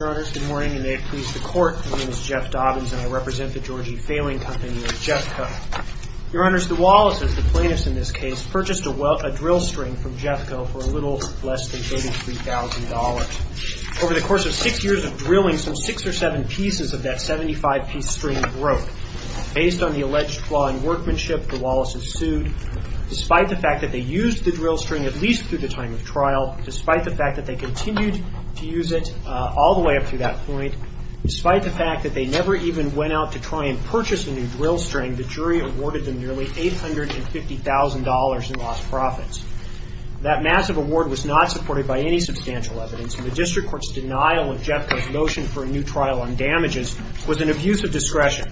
Your Honors, good morning, and may it please the Court, my name is Jeff Dobbins, and I represent the George E. Falling Company of Jefco. Your Honors, the Wallaces, the plaintiffs in this case, purchased a drill string from Jefco for a little less than $83,000. Over the course of six years of drilling, some six or seven pieces of that 75-piece string broke. Based on the alleged flaw in workmanship, the Wallaces sued. Despite the fact that they used the drill string, at least through the time of trial, despite the fact that they continued to use it all the way up to that point, despite the fact that they never even went out to try and purchase a new drill string, the jury awarded them nearly $850,000 in lost profits. That massive award was not supported by any substantial evidence, and the district court's denial of Jefco's notion for a new trial on damages was an abuse of discretion.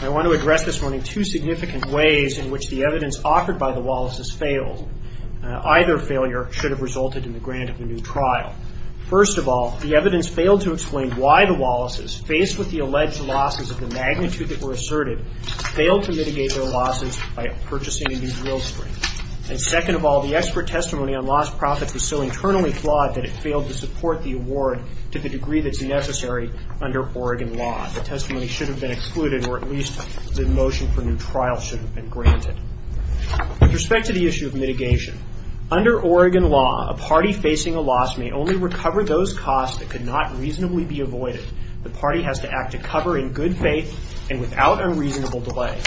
I want to address this morning two significant ways in which the evidence offered by the Wallaces failed. Either failure should have resulted in the grant of a new trial. First of all, the evidence failed to explain why the Wallaces, faced with the alleged losses of the magnitude that were asserted, failed to mitigate their losses by purchasing a new drill string. And second of all, the expert testimony on lost profits was so internally flawed that it failed to support the award to the degree that's necessary under Oregon law. The testimony should have been excluded, or at least the motion for a new trial should have been granted. With respect to the issue of mitigation, under Oregon law, a party facing a loss may only recover those costs that could not reasonably be avoided. The party has to act to cover in good faith and without unreasonable delay.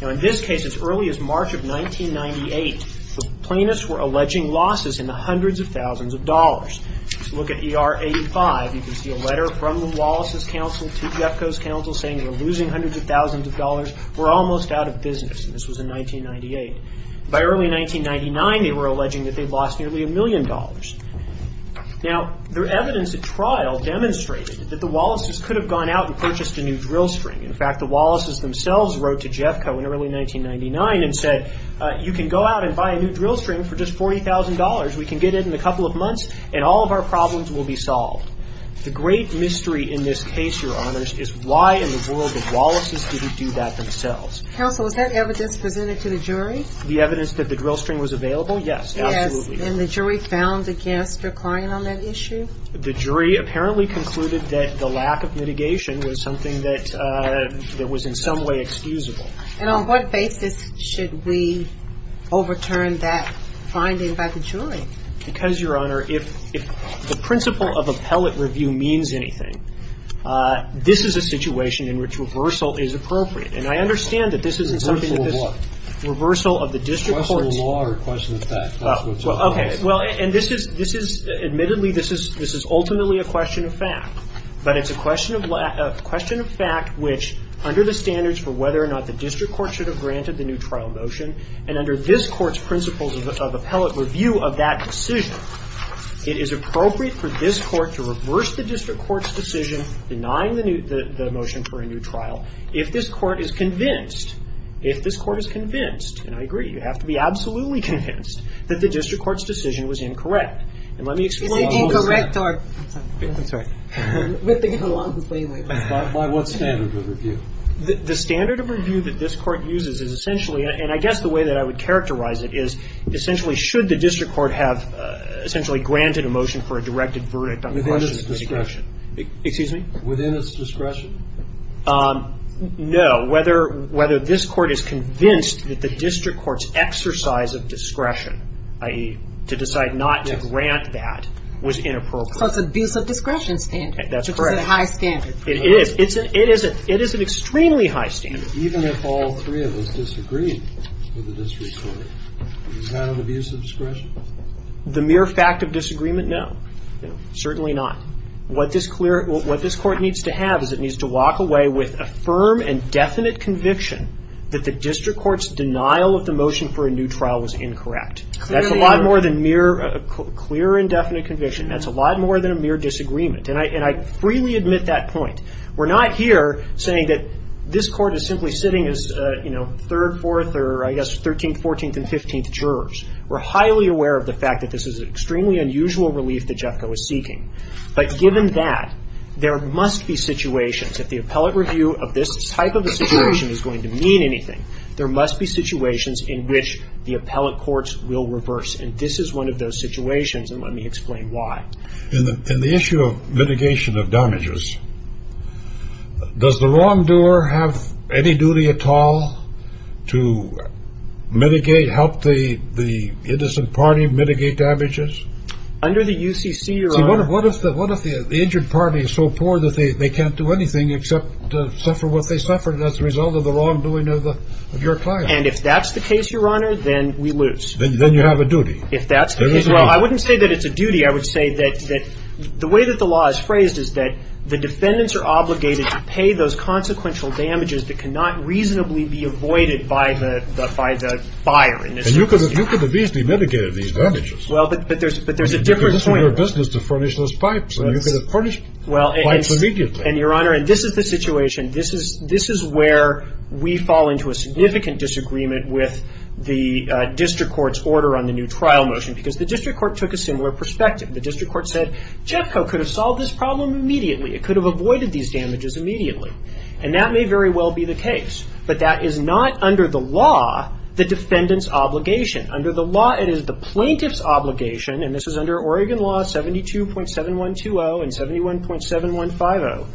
Now in this case, as early as March of 1998, the plaintiffs were alleging losses in the hundreds of thousands of dollars. If you look at ER 85, you can see a letter from the Wallaces' counsel to Jefco's counsel saying they're losing hundreds of thousands of dollars, we're almost out of business. This was in 1998. By early 1999, they were alleging that they'd lost nearly a million dollars. Now, their evidence at trial demonstrated that the Wallaces could have gone out and purchased a new drill string. In fact, the Wallaces themselves wrote to Jefco in early 1999 and said, you can go out and buy a new drill string for just $40,000. We can get it in a couple of months and all of our problems will be solved. The great mystery in this case, Your Honors, is why in the world of Wallaces did he do that themselves? Counsel, is that evidence presented to the jury? The evidence that the drill string was available? Yes, absolutely. And the jury found against the client on that issue? The jury apparently concluded that the lack of mitigation was something that was in some way excusable. And on what basis should we overturn that finding by the jury? Because, Your Honor, if the principle of appellate review means anything, this is a situation in which reversal is appropriate. And I understand that this isn't something that this reversal of the district court's Reversal of what? Reversal of law or question of fact? Okay. Well, and this is admittedly, this is ultimately a question of fact. But it's a question of fact which, under the standards for whether or not the district court should have granted the new trial motion, and under this court's principles of appellate review of that decision, it is appropriate for this court to reverse the district court's decision denying the motion for a new trial. If this court is convinced, if this court is convinced, and I agree, you have to be absolutely convinced that the district court's decision was incorrect. And let me explain. Is it incorrect or? I'm sorry. We're thinking along the same lines. By what standard of review? The standard of review that this court uses is essentially, and I guess the way that I would characterize it is essentially should the district court have essentially granted a motion for a directed verdict on the question of discretion. Within its discretion. Excuse me? Within its discretion. No. Whether this court is convinced that the district court's exercise of discretion, i.e., to decide not to grant that, was inappropriate. So it's an abuse of discretion standard. That's correct. Which is a high standard. It is. It is an extremely high standard. Even if all three of us disagreed with the district court, is that an abuse of discretion? The mere fact of disagreement, no. Certainly not. What this court needs to have is it needs to walk away with a firm and definite conviction that the district court's denial of the motion for a new trial was incorrect. Clearly. That's a lot more than mere clear and definite conviction. That's a lot more than a mere disagreement. And I freely admit that point. We're not here saying that this court is simply sitting as, you know, third, fourth, or I guess 13th, 14th, and 15th jurors. We're highly aware of the fact that this is an extremely unusual relief that Jeffco is seeking. But given that, there must be situations, if the appellate review of this type of a situation is going to mean anything, there must be situations in which the appellate courts will reverse. And this is one of those situations, and let me explain why. In the issue of mitigation of damages, does the wrongdoer have any duty at all to mitigate, help the innocent party mitigate damages? Under the UCC, Your Honor. See, what if the injured party is so poor that they can't do anything except suffer what they suffered as a result of the wrongdoing of your client? And if that's the case, Your Honor, then we lose. Then you have a duty. If that's the case. Well, I wouldn't say that it's a duty. I would say that the way that the law is phrased is that the defendants are obligated to pay those consequential damages that cannot reasonably be avoided by the buyer. And you could at least be mitigating these damages. Well, but there's a different point. Because it's in your business to furnish those pipes. And you could have furnished pipes immediately. And, Your Honor, this is the situation. This is where we fall into a significant disagreement with the district court's order on the new trial motion because the district court took a similar perspective. The district court said, Jeffco could have solved this problem immediately. It could have avoided these damages immediately. And that may very well be the case. But that is not under the law the defendant's obligation. Under the law, it is the plaintiff's obligation, and this is under Oregon Law 72.7120 and 71.7150.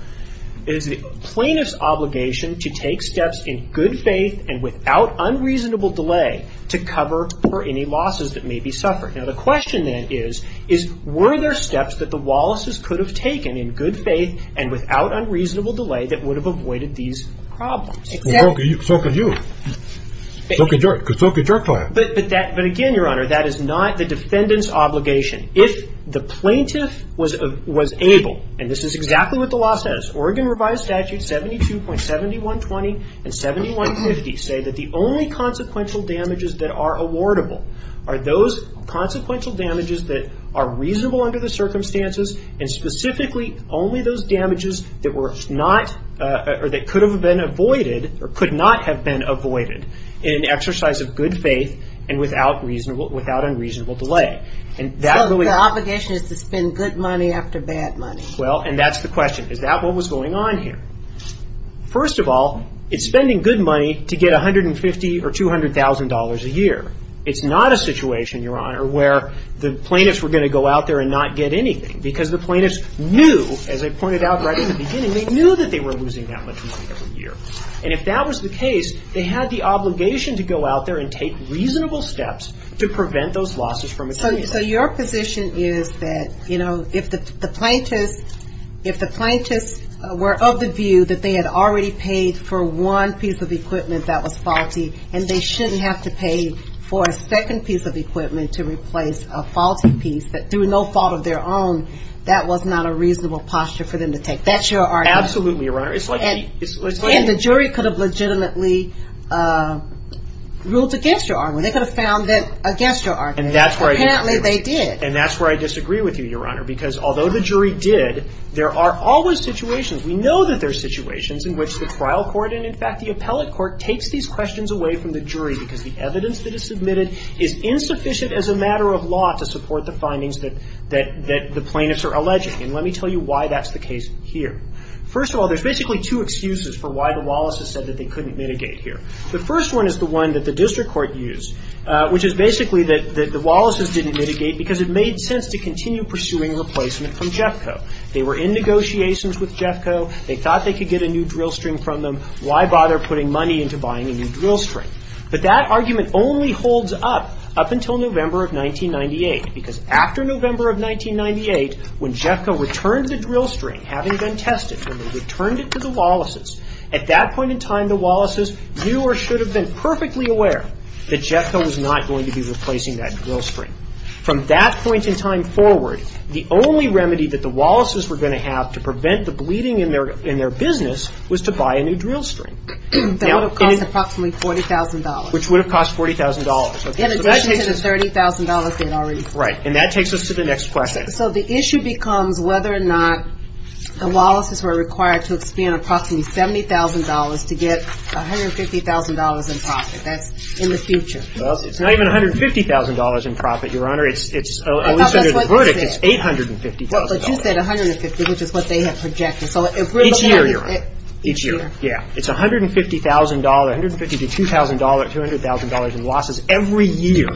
It is the plaintiff's obligation to take steps in good faith and without unreasonable delay to cover for any losses that may be suffered. Now, the question then is, were there steps that the Wallaces could have taken in good faith and without unreasonable delay that would have avoided these problems? Well, so could you. So could your client. But again, Your Honor, that is not the defendant's obligation. If the plaintiff was able, and this is exactly what the law says, Oregon Revised Statutes 72.7120 and 71.50 say that the only consequential damages that are awardable are those consequential damages that are reasonable under the circumstances and specifically only those damages that could not have been avoided in an exercise of good faith and without unreasonable delay. The obligation is to spend good money after bad money. Well, and that is the question. Is that what was going on here? First of all, it's spending good money to get $150,000 or $200,000 a year. It's not a situation, Your Honor, where the plaintiffs were going to go out there and not get anything because the plaintiffs knew, as I pointed out right in the beginning, they knew that they were losing that much money every year. And if that was the case, they had the obligation to go out there and take reasonable steps to prevent those losses from occurring. So your position is that, you know, if the plaintiffs were of the view that they had already paid for one piece of equipment that was faulty and they shouldn't have to pay for a second piece of equipment to replace a faulty piece that through no fault of their own, that was not a reasonable posture for them to take. That's your argument. Absolutely, Your Honor. And the jury could have legitimately ruled against your argument. They could have found that against your argument. And that's where I disagree with you. Apparently, they did. And that's where I disagree with you, Your Honor, because although the jury did, there are always situations, we know that there are situations in which the trial court and, in fact, the appellate court takes these questions away from the jury because the evidence that is submitted is insufficient as a matter of law to support the findings that the plaintiffs are alleging. And let me tell you why that's the case here. First of all, there's basically two excuses for why the Wallace's said that they couldn't mitigate here. The first one is the one that the district court used, which is basically that the Wallace's didn't mitigate because it made sense to continue pursuing replacement from Jeffco. They were in negotiations with Jeffco. They thought they could get a new drill string from them. Why bother putting money into buying a new drill string? But that argument only holds up up until November of 1998, because after November of 1998, when Jeffco returned the drill string, having been tested, when they returned it to the Wallace's, at that point in time, the Wallace's knew or should have been perfectly aware that Jeffco was not going to be replacing that drill string. From that point in time forward, the only remedy that the Wallace's were going to have to prevent the bleeding in their business was to buy a new drill string. That would have cost approximately $40,000. Which would have cost $40,000. In addition to the $30,000 they had already paid. Right. And that takes us to the next question. So the issue becomes whether or not the Wallace's were required to expend approximately $70,000 to get $150,000 in profit. That's in the future. Well, it's not even $150,000 in profit, Your Honor. At least under the verdict, it's $850,000. But you said $150,000, which is what they had projected. Each year, Your Honor. Each year. Yeah. It's $150,000, $150,000 to $2,000, $200,000 in losses every year.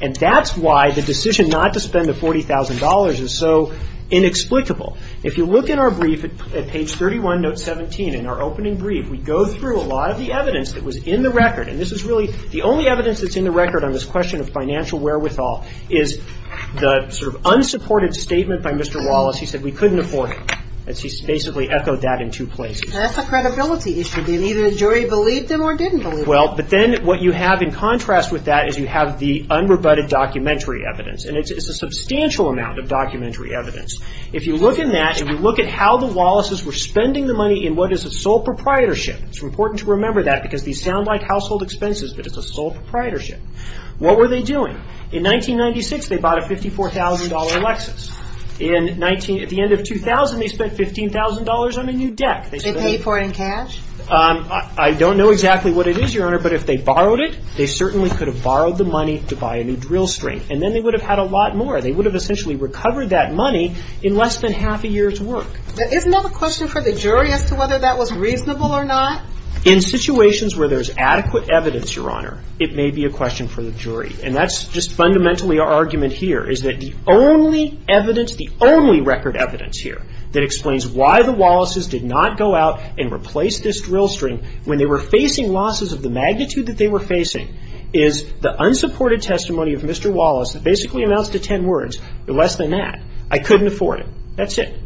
And that's why the decision not to spend the $40,000 is so inexplicable. If you look in our brief at page 31, note 17, in our opening brief, we go through a lot of the evidence that was in the record. And this is really the only evidence that's in the record on this question of financial wherewithal is the sort of unsupported statement by Mr. Wallace. He said we couldn't afford it. He basically echoed that in two places. That's a credibility issue. Either the jury believed him or didn't believe him. But then what you have in contrast with that is you have the unrebutted documentary evidence. And it's a substantial amount of documentary evidence. If you look in that, if you look at how the Wallaces were spending the money in what is a sole proprietorship, it's important to remember that because these sound like household expenses, but it's a sole proprietorship. What were they doing? In 1996, they bought a $54,000 Lexus. At the end of 2000, they spent $15,000 on a new deck. They paid for it in cash? I don't know exactly what it is, Your Honor, but if they borrowed it, they certainly could have borrowed the money to buy a new drill string. And then they would have had a lot more. They would have essentially recovered that money in less than half a year's work. Isn't that a question for the jury as to whether that was reasonable or not? In situations where there's adequate evidence, Your Honor, it may be a question for the jury. And that's just fundamentally our argument here is that the only evidence, the only record evidence here that explains why the Wallaces did not go out and replace this drill string when they were facing losses of the magnitude that they were facing is the unsupported testimony of Mr. Wallace that basically amounts to ten words or less than that, I couldn't afford it, that's it.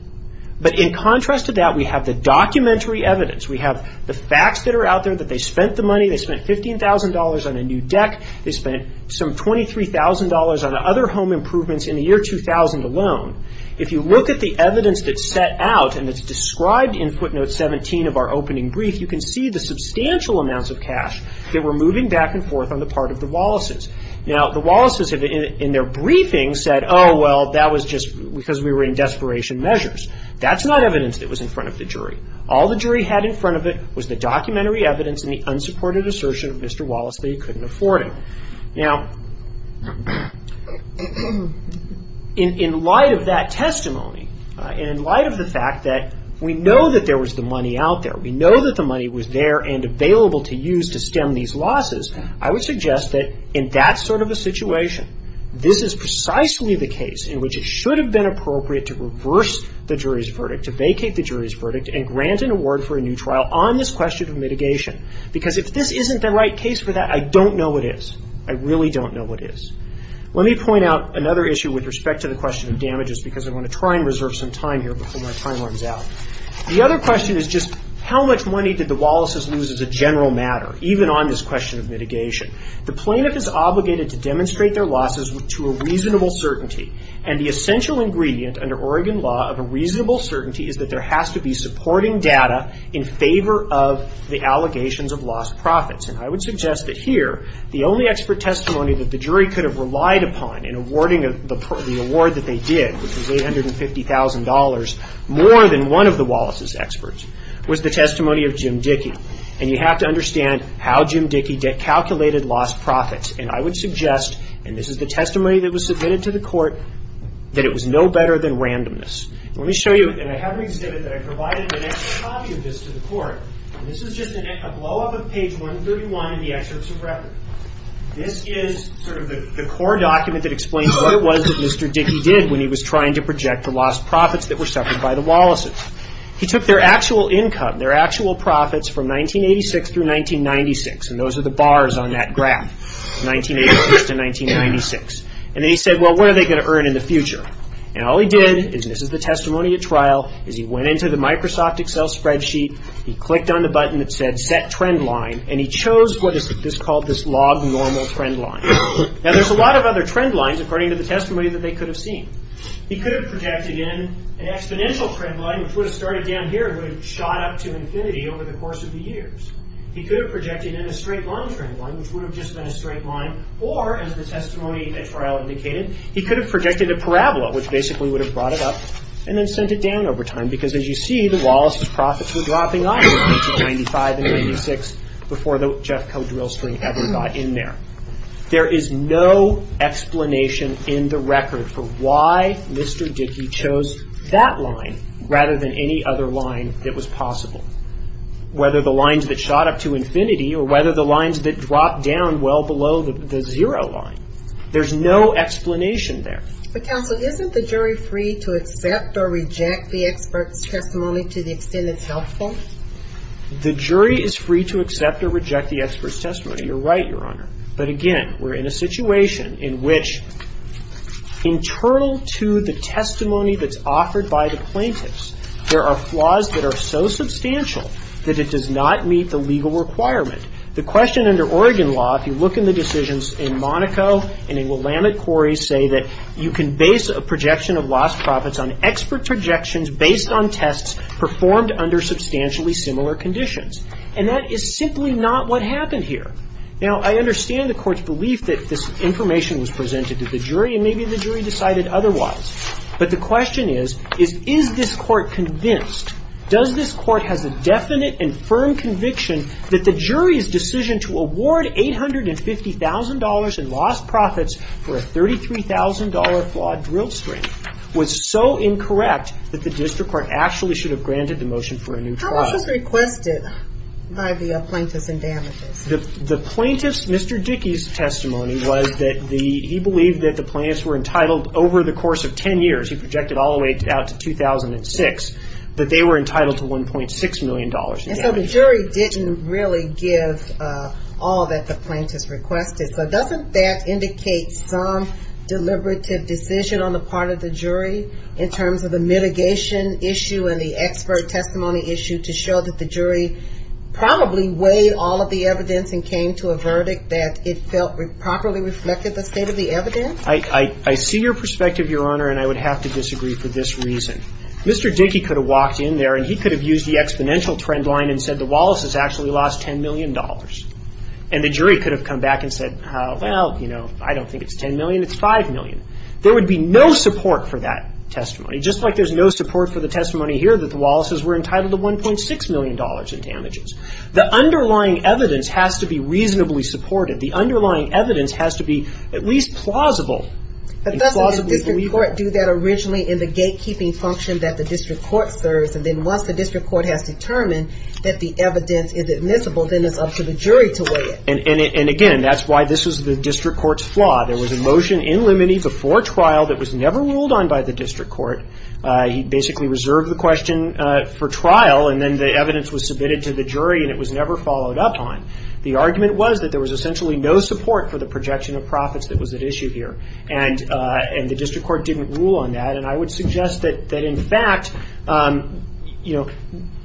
But in contrast to that, we have the documentary evidence. We have the facts that are out there that they spent the money. They spent $15,000 on a new deck. They spent some $23,000 on other home improvements in the year 2000 alone. If you look at the evidence that's set out and that's described in footnote 17 of our opening brief, you can see the substantial amounts of cash that were moving back and forth on the part of the Wallaces. Now, the Wallaces in their briefing said, oh, well, that was just because we were in desperation measures. That's not evidence that was in front of the jury. All the jury had in front of it was the documentary evidence and the unsupported assertion of Mr. Wallace that he couldn't afford it. Now, in light of that testimony and in light of the fact that we know that there was the money out there, we know that the money was there and available to use to stem these losses, I would suggest that in that sort of a situation, this is precisely the case in which it should have been appropriate to reverse the jury's verdict, to vacate the jury's verdict, and grant an award for a new trial on this question of mitigation. Because if this isn't the right case for that, I don't know what is. I really don't know what is. Let me point out another issue with respect to the question of damages because I want to try and reserve some time here before my time runs out. The other question is just how much money did the Wallaces lose as a general matter, even on this question of mitigation? The plaintiff is obligated to demonstrate their losses to a reasonable certainty, and the essential ingredient under Oregon law of a reasonable certainty is that there has to be supporting data in favor of the allegations of lost profits. And I would suggest that here, the only expert testimony that the jury could have relied upon in awarding the award that they did, which was $850,000, more than one of the Wallaces' experts, was the testimony of Jim Dickey. And you have to understand how Jim Dickey calculated lost profits. And I would suggest, and this is the testimony that was submitted to the court, that it was no better than randomness. Let me show you, and I have an exhibit that I provided an extra copy of this to the court. This is just a blowup of page 131 in the excerpts of record. This is sort of the core document that explains what it was that Mr. Dickey did when he was trying to project the lost profits that were suffered by the Wallaces. He took their actual income, their actual profits from 1986 through 1996, and those are the bars on that graph, 1986 to 1996. And then he said, well, what are they going to earn in the future? And all he did, and this is the testimony at trial, is he went into the Microsoft Excel spreadsheet, he clicked on the button that said set trendline, and he chose what is called this log normal trendline. Now, there's a lot of other trendlines, according to the testimony that they could have seen. He could have projected in an exponential trendline, which would have started down here, and would have shot up to infinity over the course of the years. He could have projected in a straight line trendline, which would have just been a straight line, or, as the testimony at trial indicated, he could have projected a parabola, which basically would have brought it up and then sent it down over time, because as you see, the Wallaces' profits were dropping off in 1995 and 1996 before the Jeffco drill string ever got in there. There is no explanation in the record for why Mr. Dickey chose that line rather than any other line that was possible. Whether the lines that shot up to infinity or whether the lines that dropped down well below the zero line. There's no explanation there. But counsel, isn't the jury free to accept or reject the expert's testimony to the extent it's helpful? The jury is free to accept or reject the expert's testimony. You're right, Your Honor. But again, we're in a situation in which internal to the testimony that's offered by the plaintiffs, there are flaws that are so substantial that it does not meet the legal requirement. The question under Oregon law, if you look in the decisions in Monaco and in Willamette Quarry, say that you can base a projection of lost profits on expert projections based on tests performed under substantially similar conditions. And that is simply not what happened here. Now, I understand the court's belief that this information was presented to the jury, and maybe the jury decided otherwise. But the question is, is this court convinced, does this court have a definite and firm conviction that the jury's decision to award $850,000 in lost profits for a $33,000 flawed drill string was so incorrect that the district court actually should have granted the motion for a new trial? How much was requested by the plaintiffs and damages? The plaintiff's, Mr. Dickey's testimony was that he believed that the plaintiffs were entitled over the course of ten years, he projected all the way out to 2006, that they were entitled to $1.6 million in damages. And so the jury didn't really give all that the plaintiffs requested. So doesn't that indicate some deliberative decision on the part of the jury in terms of the mitigation issue and the expert testimony issue to show that the jury probably weighed all of the evidence and came to a verdict that it felt properly reflected the state of the evidence? I see your perspective, Your Honor, and I would have to disagree for this reason. Mr. Dickey could have walked in there and he could have used the exponential trend line and said the Wallaces actually lost $10 million. And the jury could have come back and said, well, you know, I don't think it's $10 million, it's $5 million. There would be no support for that testimony. Just like there's no support for the testimony here that the Wallaces were entitled to $1.6 million in damages. The underlying evidence has to be reasonably supported. The underlying evidence has to be at least plausible and plausibly believable. But doesn't the district court do that originally in the gatekeeping function that the district court serves? And then once the district court has determined that the evidence is admissible, then it's up to the jury to weigh it. There was a motion in limine before trial that was never ruled on by the district court. He basically reserved the question for trial and then the evidence was submitted to the jury and it was never followed up on. The argument was that there was essentially no support for the projection of profits that was at issue here. And the district court didn't rule on that. And I would suggest that in fact, you know,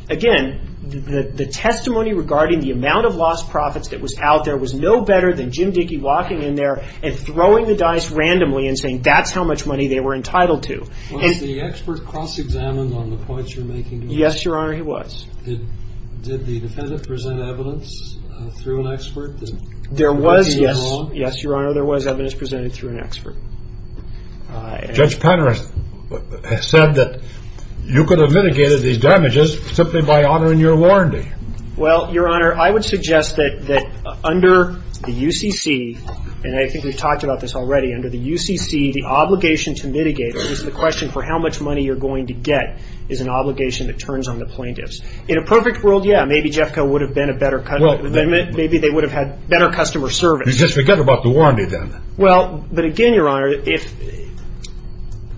again, the testimony regarding the amount of lost profits that was out there was no better than Jim Dickey walking in there and throwing the dice randomly and saying that's how much money they were entitled to. Was the expert cross-examined on the points you're making? Yes, Your Honor, he was. Did the defendant present evidence through an expert? There was, yes. Yes, Your Honor, there was evidence presented through an expert. Judge Penner has said that you could have mitigated these damages simply by honoring your warranty. Well, Your Honor, I would suggest that under the UCC, and I think we've talked about this already, under the UCC the obligation to mitigate, or at least the question for how much money you're going to get, is an obligation that turns on the plaintiffs. In a perfect world, yeah, maybe Jeffco would have been a better, maybe they would have had better customer service. Just forget about the warranty then. Well, but again, Your Honor,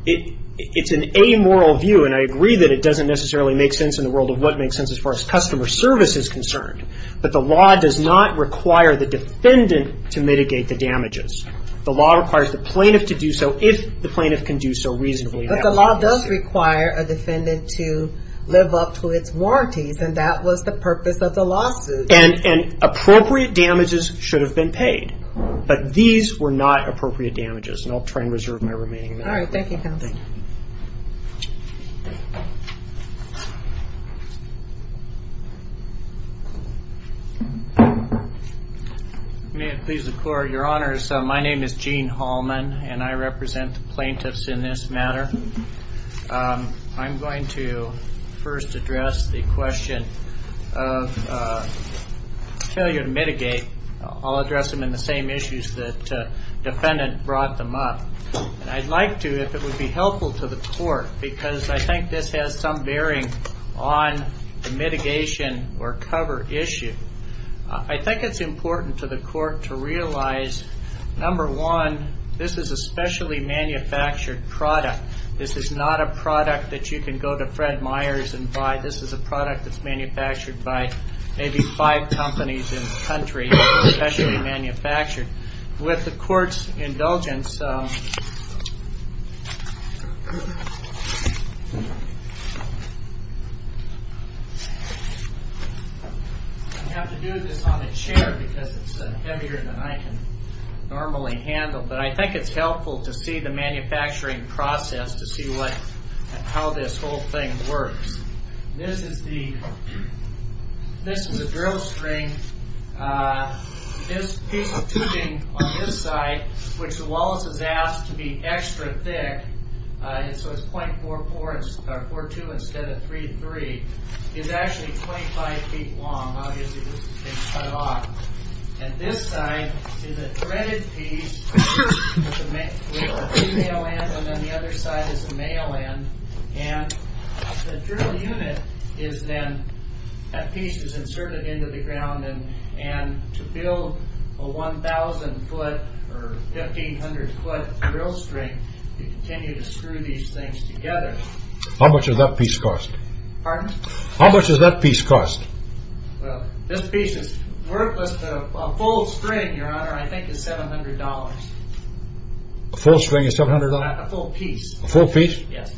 it's an amoral view and I agree that it doesn't necessarily make sense in the world of what makes sense as far as customer service. is concerned, but the law does not require the defendant to mitigate the damages. The law requires the plaintiff to do so if the plaintiff can do so reasonably. But the law does require a defendant to live up to its warranties and that was the purpose of the lawsuit. And appropriate damages should have been paid, but these were not appropriate damages. And I'll try and reserve my remaining minute. All right, thank you, counsel. Thank you. May it please the Court, Your Honors, my name is Gene Hallman and I represent the plaintiffs in this matter. I'm going to first address the question of failure to mitigate. I'll address them in the same issues that the defendant brought them up. And I'd like to, if it would be helpful to the Court, because I think this has some bearing on the mitigation or cover issue. I think it's important to the Court to realize, number one, this is a specially manufactured product. This is not a product that you can go to Fred Meyers and buy. This is a product that's manufactured by maybe five companies in the country, specially manufactured. With the Court's indulgence, I have to do this on a chair because it's heavier than I can normally handle. But I think it's helpful to see the manufacturing process to see how this whole thing works. This is the drill string. This piece of tubing on this side, which the Wallace has asked to be extra thick, so it's .42 instead of .33, is actually 25 feet long. Obviously, this has been cut off. And this side is a threaded piece with a female end and then the other side is the male end. And the drill unit is then, that piece is inserted into the ground. And to build a 1,000 foot or 1,500 foot drill string, you continue to screw these things together. How much does that piece cost? Pardon? How much does that piece cost? Well, this piece is worthless. A full string, Your Honor, I think is $700. A full string is $700? A full piece. A full piece? Yes.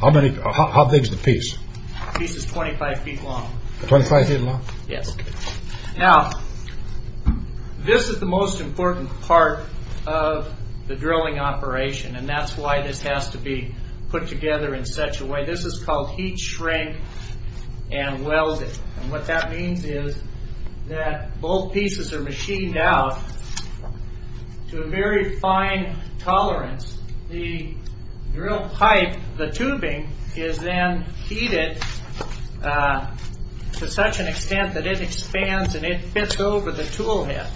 How big is the piece? The piece is 25 feet long. 25 feet long? Yes. Now, this is the most important part of the drilling operation and that's why this has to be put together in such a way. This is called heat shrink and welding. And what that means is that both pieces are machined out to a very fine tolerance. The drill pipe, the tubing, is then heated to such an extent that it expands and it fits over the tool head.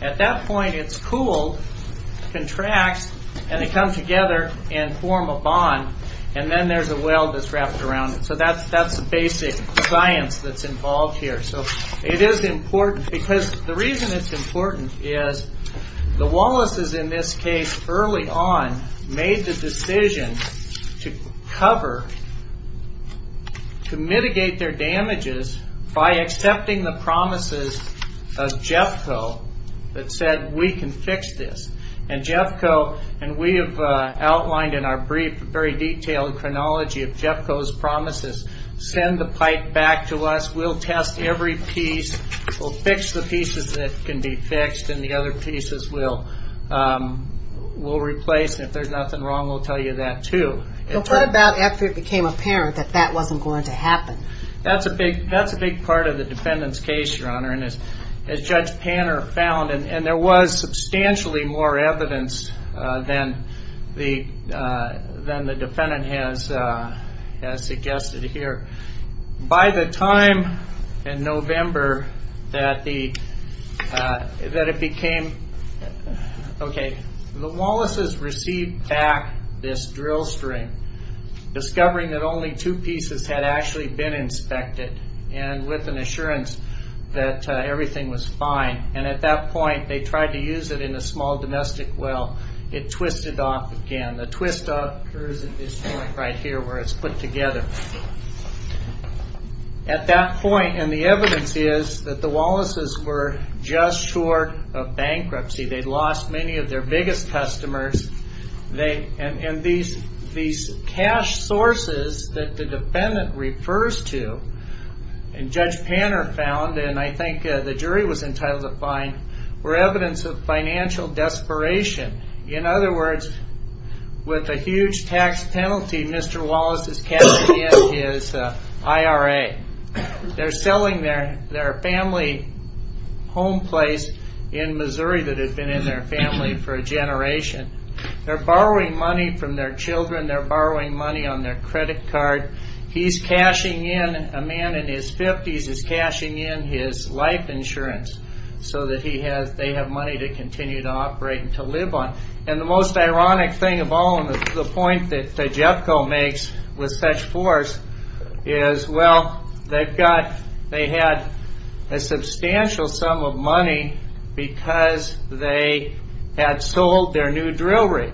At that point, it's cooled, contracts, and they come together and form a bond. And then there's a weld that's wrapped around it. So that's the basic science that's involved here. So it is important because the reason it's important is the Wallaces in this case early on made the decision to cover, to mitigate their damages by accepting the promises of Jeffco that said we can fix this. And Jeffco, and we have outlined in our brief, very detailed chronology of Jeffco's promises, send the pipe back to us. We'll test every piece. We'll fix the pieces that can be fixed and the other pieces we'll replace. And if there's nothing wrong, we'll tell you that too. But what about after it became apparent that that wasn't going to happen? That's a big part of the defendant's case, Your Honor. And as Judge Panner found, and there was substantially more evidence than the defendant has suggested here. By the time in November that it became, okay, the Wallaces received back this drill string, discovering that only two pieces had actually been inspected. And with an assurance that everything was fine. And at that point, they tried to use it in a small domestic well. It twisted off again. The twist occurs at this point right here where it's put together. At that point, and the evidence is that the Wallaces were just short of bankruptcy. They'd lost many of their biggest customers. And these cash sources that the defendant refers to, and Judge Panner found, and I think the jury was entitled to find, were evidence of financial desperation. In other words, with a huge tax penalty, Mr. Wallace is cashing in his IRA. They're selling their family home place in Missouri that had been in their family for a generation. They're borrowing money from their children. They're borrowing money on their credit card. He's cashing in, a man in his fifties is cashing in his life insurance so that they have money to continue to operate and to live on. And the most ironic thing of all, and the point that Tejepco makes with such force, is, well, they had a substantial sum of money because they had sold their new drill rig.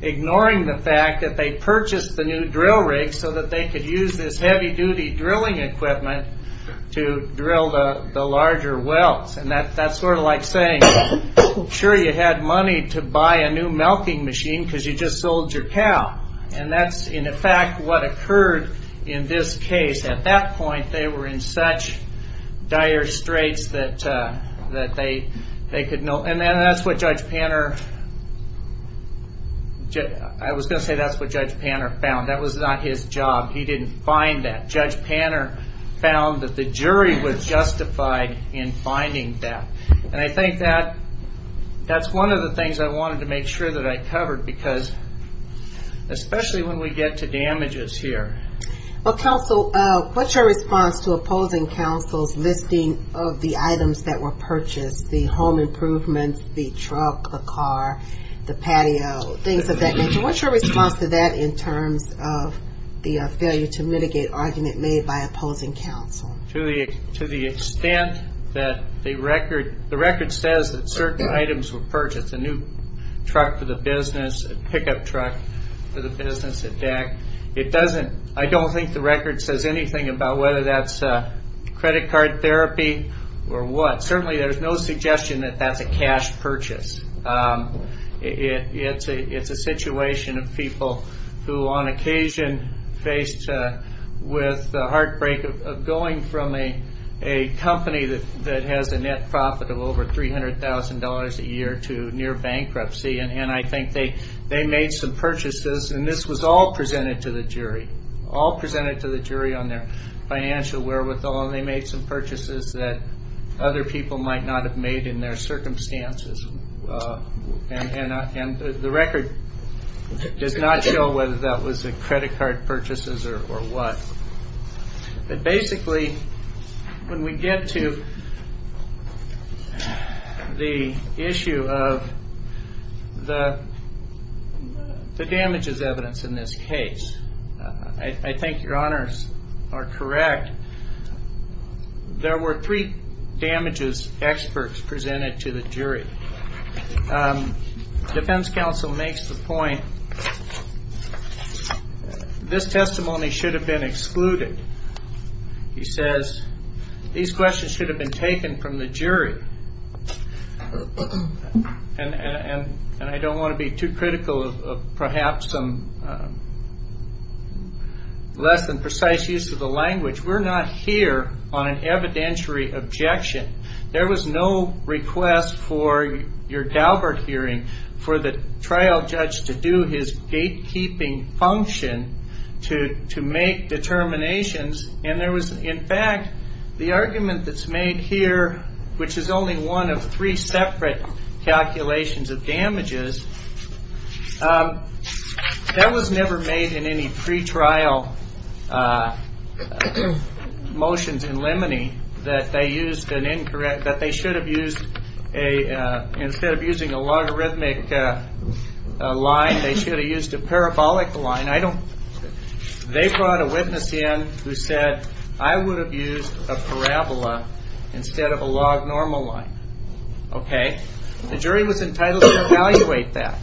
Ignoring the fact that they purchased the new drill rig so that they could use this heavy-duty drilling equipment to drill the larger wells. And that's sort of like saying, sure, you had money to buy a new milking machine because you just sold your cow. And that's, in effect, what occurred in this case. At that point, they were in such dire straits that they could no longer... And that's what Judge Panner... I was going to say that's what Judge Panner found. That was not his job. He didn't find that. Judge Panner found that the jury was justified in finding that. And I think that's one of the things I wanted to make sure that I covered because especially when we get to damages here. Well, counsel, what's your response to opposing counsel's listing of the items that were purchased, the home improvements, the truck, the car, the patio, things of that nature? So what's your response to that in terms of the failure to mitigate argument made by opposing counsel? To the extent that the record says that certain items were purchased, a new truck for the business, a pickup truck for the business, a deck. It doesn't... I don't think the record says anything about whether that's credit card therapy or what. Certainly there's no suggestion that that's a cash purchase. It's a situation of people who on occasion faced with the heartbreak of going from a company that has a net profit of over $300,000 a year to near bankruptcy. And I think they made some purchases, and this was all presented to the jury, all presented to the jury on their financial wherewithal. And they made some purchases that other people might not have made in their circumstances. And the record does not show whether that was a credit card purchases or what. But basically when we get to the issue of the damages evidence in this case, I think your honors are correct. There were three damages experts presented to the jury. Defense counsel makes the point this testimony should have been excluded. He says these questions should have been taken from the jury. And I don't want to be too critical of perhaps some less than precise use of the language. We're not here on an evidentiary objection. There was no request for your Daubert hearing for the trial judge to do his gatekeeping function to make determinations. And there was, in fact, the argument that's made here, which is only one of three separate calculations of damages, that was never made in any pretrial motions in limine that they used an incorrect, that they should have used a, instead of using a logarithmic line, they should have used a parabolic line. They brought a witness in who said, I would have used a parabola instead of a log normal line. The jury was entitled to evaluate that.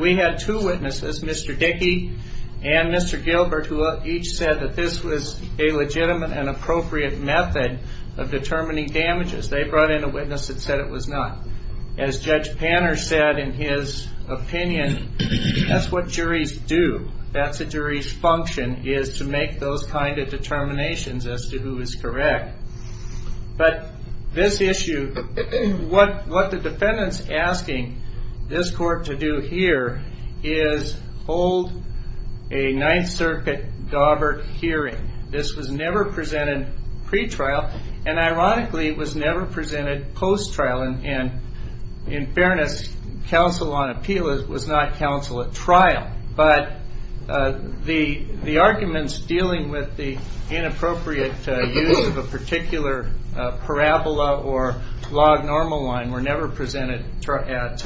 We had two witnesses, Mr. Dickey and Mr. Gilbert, who each said that this was a legitimate and appropriate method of determining damages. They brought in a witness that said it was not. As Judge Panner said in his opinion, that's what juries do. That's a jury's function, is to make those kind of determinations as to who is correct. But this issue, what the defendant's asking this court to do here, is hold a Ninth Circuit Daubert hearing. This was never presented pretrial, and ironically it was never presented post-trial. In fairness, counsel on appeal was not counsel at trial. But the arguments dealing with the inappropriate use of a particular parabola or log normal line were never presented at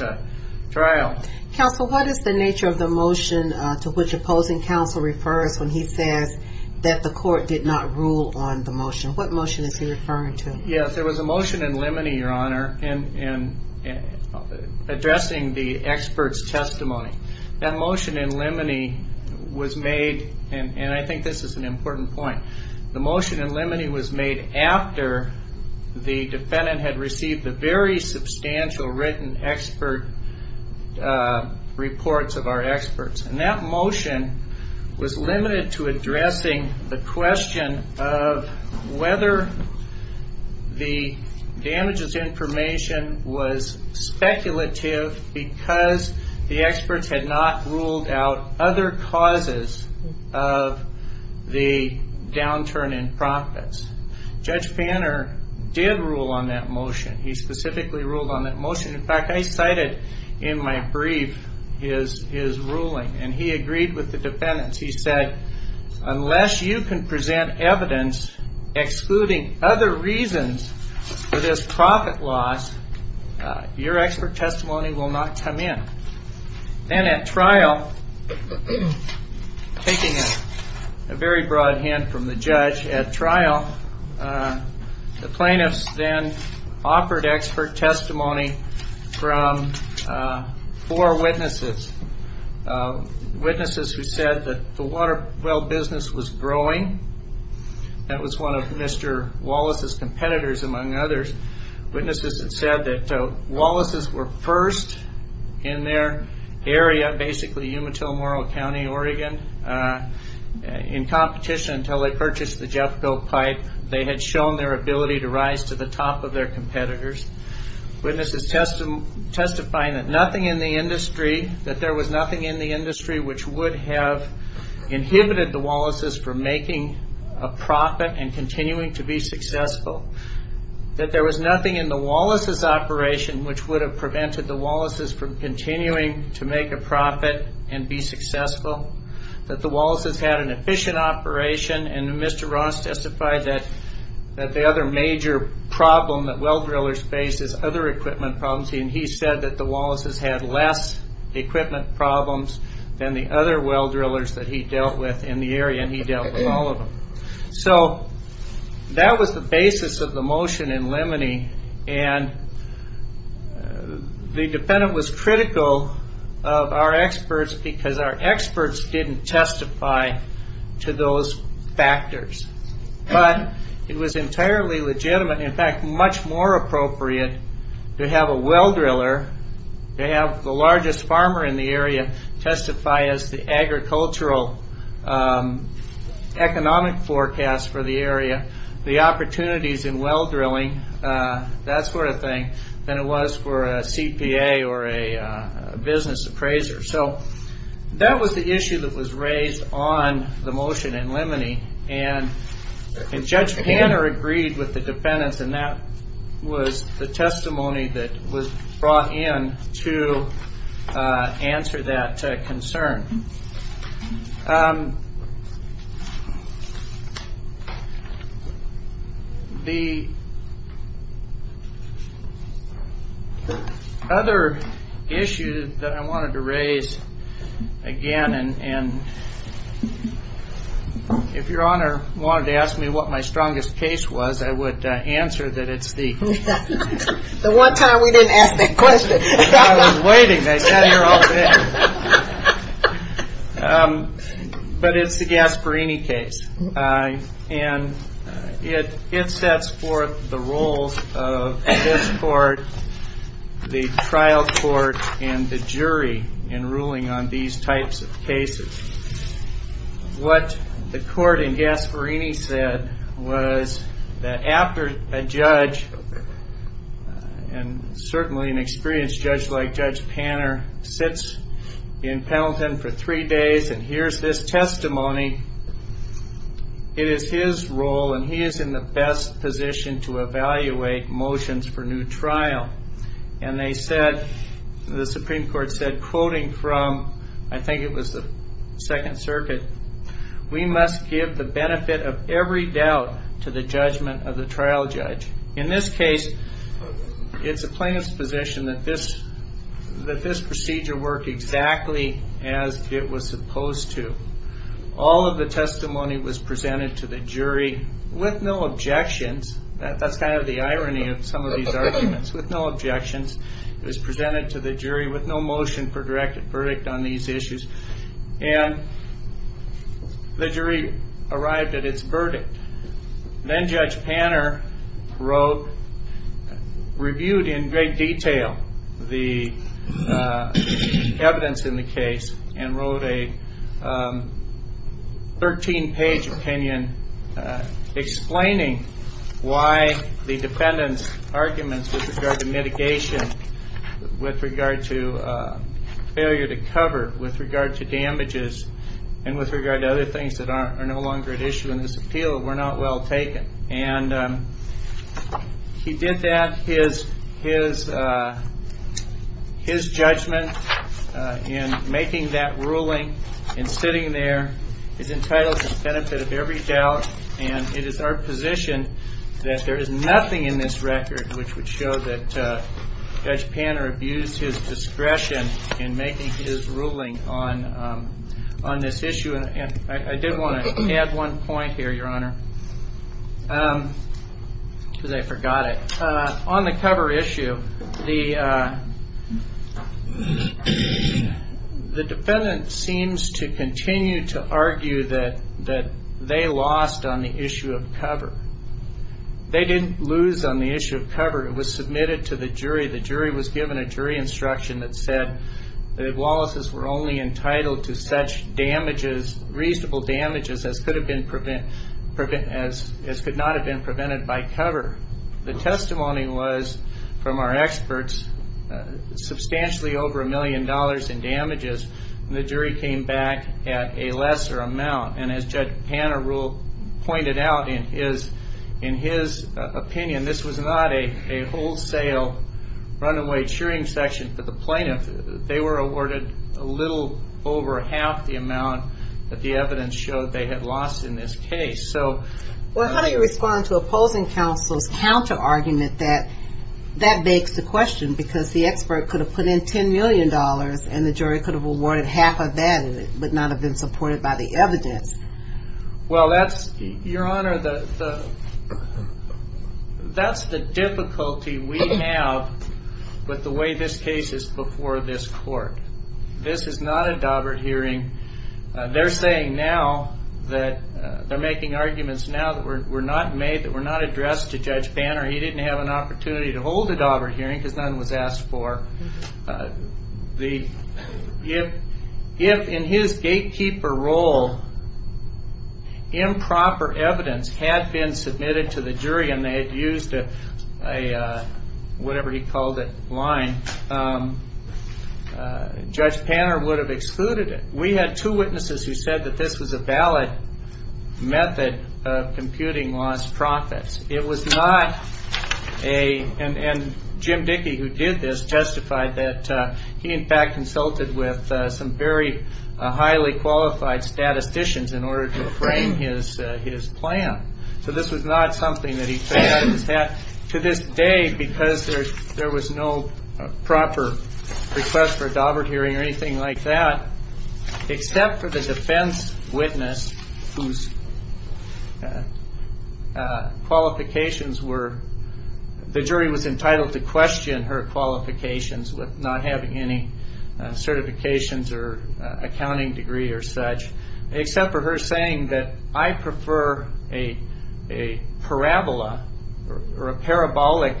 trial. Counsel, what is the nature of the motion to which opposing counsel refers when he says that the court did not rule on the motion? What motion is he referring to? Yes, there was a motion in limine, Your Honor, in addressing the expert's testimony. That motion in limine was made, and I think this is an important point, the motion in limine was made after the defendant had received the very substantial written expert reports of our experts. That motion was limited to addressing the question of whether the damages information was speculative because the experts had not ruled out other causes of the downturn in profits. Judge Fanner did rule on that motion. He specifically ruled on that motion. In fact, I cited in my brief his ruling, and he agreed with the defendants. He said, unless you can present evidence excluding other reasons for this profit loss, your expert testimony will not come in. Then at trial, taking a very broad hand from the judge at trial, the plaintiffs then offered expert testimony from four witnesses. Witnesses who said that the water well business was growing. That was one of Mr. Wallace's competitors, among others. Witnesses had said that Wallace's were first in their area, basically Umatillomoro County, Oregon, in competition until they purchased the Jeffco pipe. They had shown their ability to rise to the top of their competitors. Witnesses testifying that nothing in the industry, that there was nothing in the industry which would have inhibited the Wallace's from making a profit and continuing to be successful. That there was nothing in the Wallace's operation That the Wallace's had an efficient operation. Mr. Ross testified that the other major problem that well drillers face is other equipment problems. He said that the Wallace's had less equipment problems than the other well drillers that he dealt with in the area, and he dealt with all of them. That was the basis of the motion in Lemony. The defendant was critical of our experts because our experts didn't testify to those factors. But it was entirely legitimate, in fact, much more appropriate to have a well driller, to have the largest farmer in the area, the opportunities in well drilling, that sort of thing, than it was for a CPA or a business appraiser. So that was the issue that was raised on the motion in Lemony, and Judge Tanner agreed with the defendants, and that was the testimony that was brought in to answer that concern. The other issue that I wanted to raise again, and if Your Honor wanted to ask me what my strongest case was, I would answer that it's the... The one time we didn't ask that question. I was waiting, I sat here all day. But it's the Gasparini case, and it sets forth the roles of this court, the trial court, and the jury in ruling on these types of cases. What the court in Gasparini said was that after a judge, and certainly an experienced judge like Judge Tanner, sits in Pendleton for three days and hears this testimony, it is his role, and he is in the best position to evaluate motions for new trial. And they said, the Supreme Court said, quoting from, I think it was the Second Circuit, we must give the benefit of every doubt to the judgment of the trial judge. In this case, it's a plaintiff's position that this procedure work exactly as it was supposed to. All of the testimony was presented to the jury with no objections. That's kind of the irony of some of these arguments, with no objections. It was presented to the jury with no motion for directed verdict on these issues. And the jury arrived at its verdict. Then Judge Tanner reviewed in great detail the evidence in the case and wrote a 13-page opinion explaining why the defendant's arguments with regard to mitigation, with regard to failure to cover, with regard to damages, and with regard to other things that are no longer at issue in this appeal were not well taken. And he did that. His judgment in making that ruling and sitting there is entitled to the benefit of every doubt. And it is our position that there is nothing in this record which would show that Judge Tanner abused his discretion in making his ruling on this issue. I did want to add one point here, Your Honor, because I forgot it. On the cover issue, the defendant seems to continue to argue that they lost on the issue of cover. They didn't lose on the issue of cover. It was submitted to the jury. The jury was given a jury instruction that said that the Wallaces were only entitled to such damages, reasonable damages as could not have been prevented by cover. The testimony was from our experts, substantially over a million dollars in damages, and the jury came back at a lesser amount. And as Judge Tanner pointed out in his opinion, this was not a wholesale runaway cheering session for the plaintiff. They were awarded a little over half the amount that the evidence showed they had lost in this case. Well, how do you respond to opposing counsel's counter-argument that that begs the question, because the expert could have put in $10 million and the jury could have awarded half of that and it would not have been supported by the evidence? Well, Your Honor, that's the difficulty we have with the way this case is before this court. This is not a Daubert hearing. They're saying now that they're making arguments now that were not made, that were not addressed to Judge Banner. He didn't have an opportunity to hold a Daubert hearing because none was asked for. If in his gatekeeper role improper evidence had been submitted to the jury and they had used a whatever-he-called-it line, Judge Banner would have excluded it. We had two witnesses who said that this was a valid method of computing lost profits. It was not a... And Jim Dickey, who did this, testified that he in fact consulted with some very highly qualified statisticians in order to frame his plan. So this was not something that he said. To this day, because there was no proper request for a Daubert hearing or anything like that, except for the defense witness whose qualifications were... The jury was entitled to question her qualifications with not having any certifications or accounting degree or such, except for her saying that, I prefer a parabola or a parabolic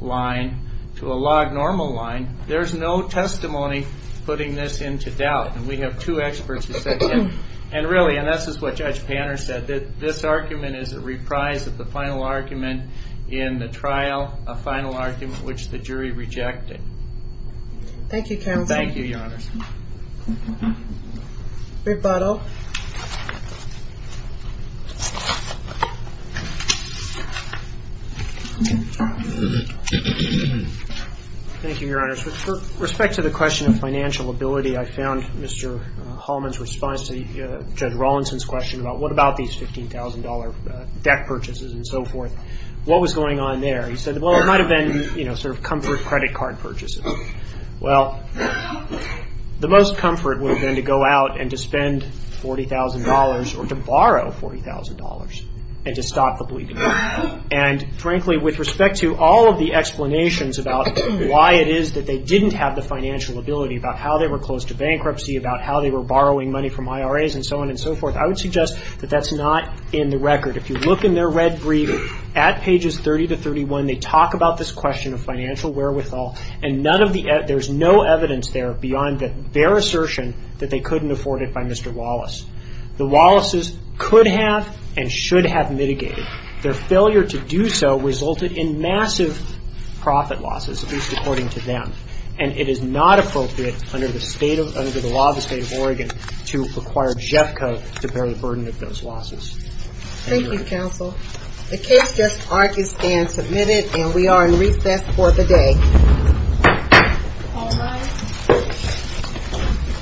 line to a log-normal line. There's no testimony putting this into doubt. And we have two experts who said that. And really, and this is what Judge Banner said, that this argument is a reprise of the final argument in the trial, a final argument which the jury rejected. Thank you, counsel. Thank you, Your Honors. Big bottle. Thank you, Your Honors. With respect to the question of financial ability, I found Mr. Hallman's response to Judge Rawlinson's question about what about these $15,000 debt purchases and so forth. What was going on there? He said, well, it might have been, you know, sort of comfort credit card purchases. Well, the most comfort would have been to go out and to spend $40,000 or to borrow $40,000 and to stop the bleeding. And frankly, with respect to all of the explanations about why it is that they didn't have the financial ability, about how they were close to bankruptcy, about how they were borrowing money from IRAs and so on and so forth, I would suggest that that's not in the record. If you look in their red brief at pages 30 to 31, they talk about this question of financial wherewithal and there's no evidence there beyond their assertion that they couldn't afford it by Mr. Wallace. The Wallaces could have and should have mitigated. Their failure to do so resulted in massive profit losses, at least according to them, and it is not appropriate under the law of the State of Oregon to require JFCA to bear the burden of those losses. Thank you, Counsel. The case just argues and submitted and we are in recess for the day. All rise. Okay. Thank you.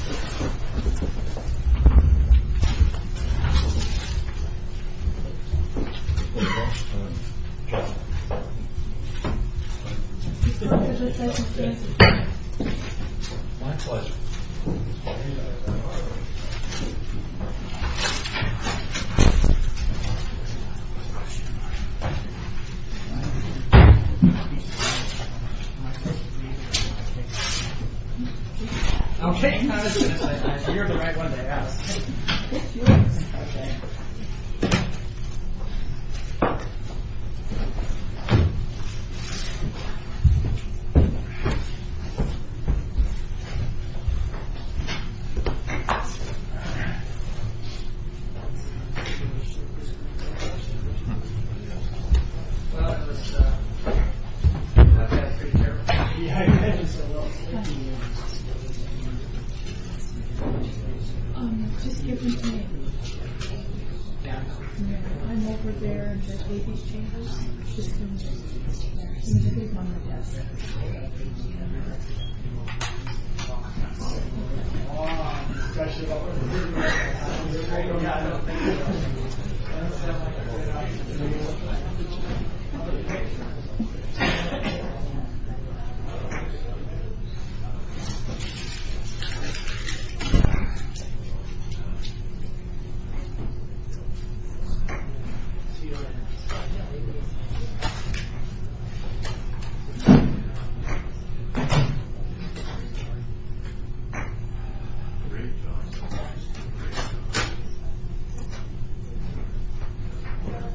Thank you. Thank you.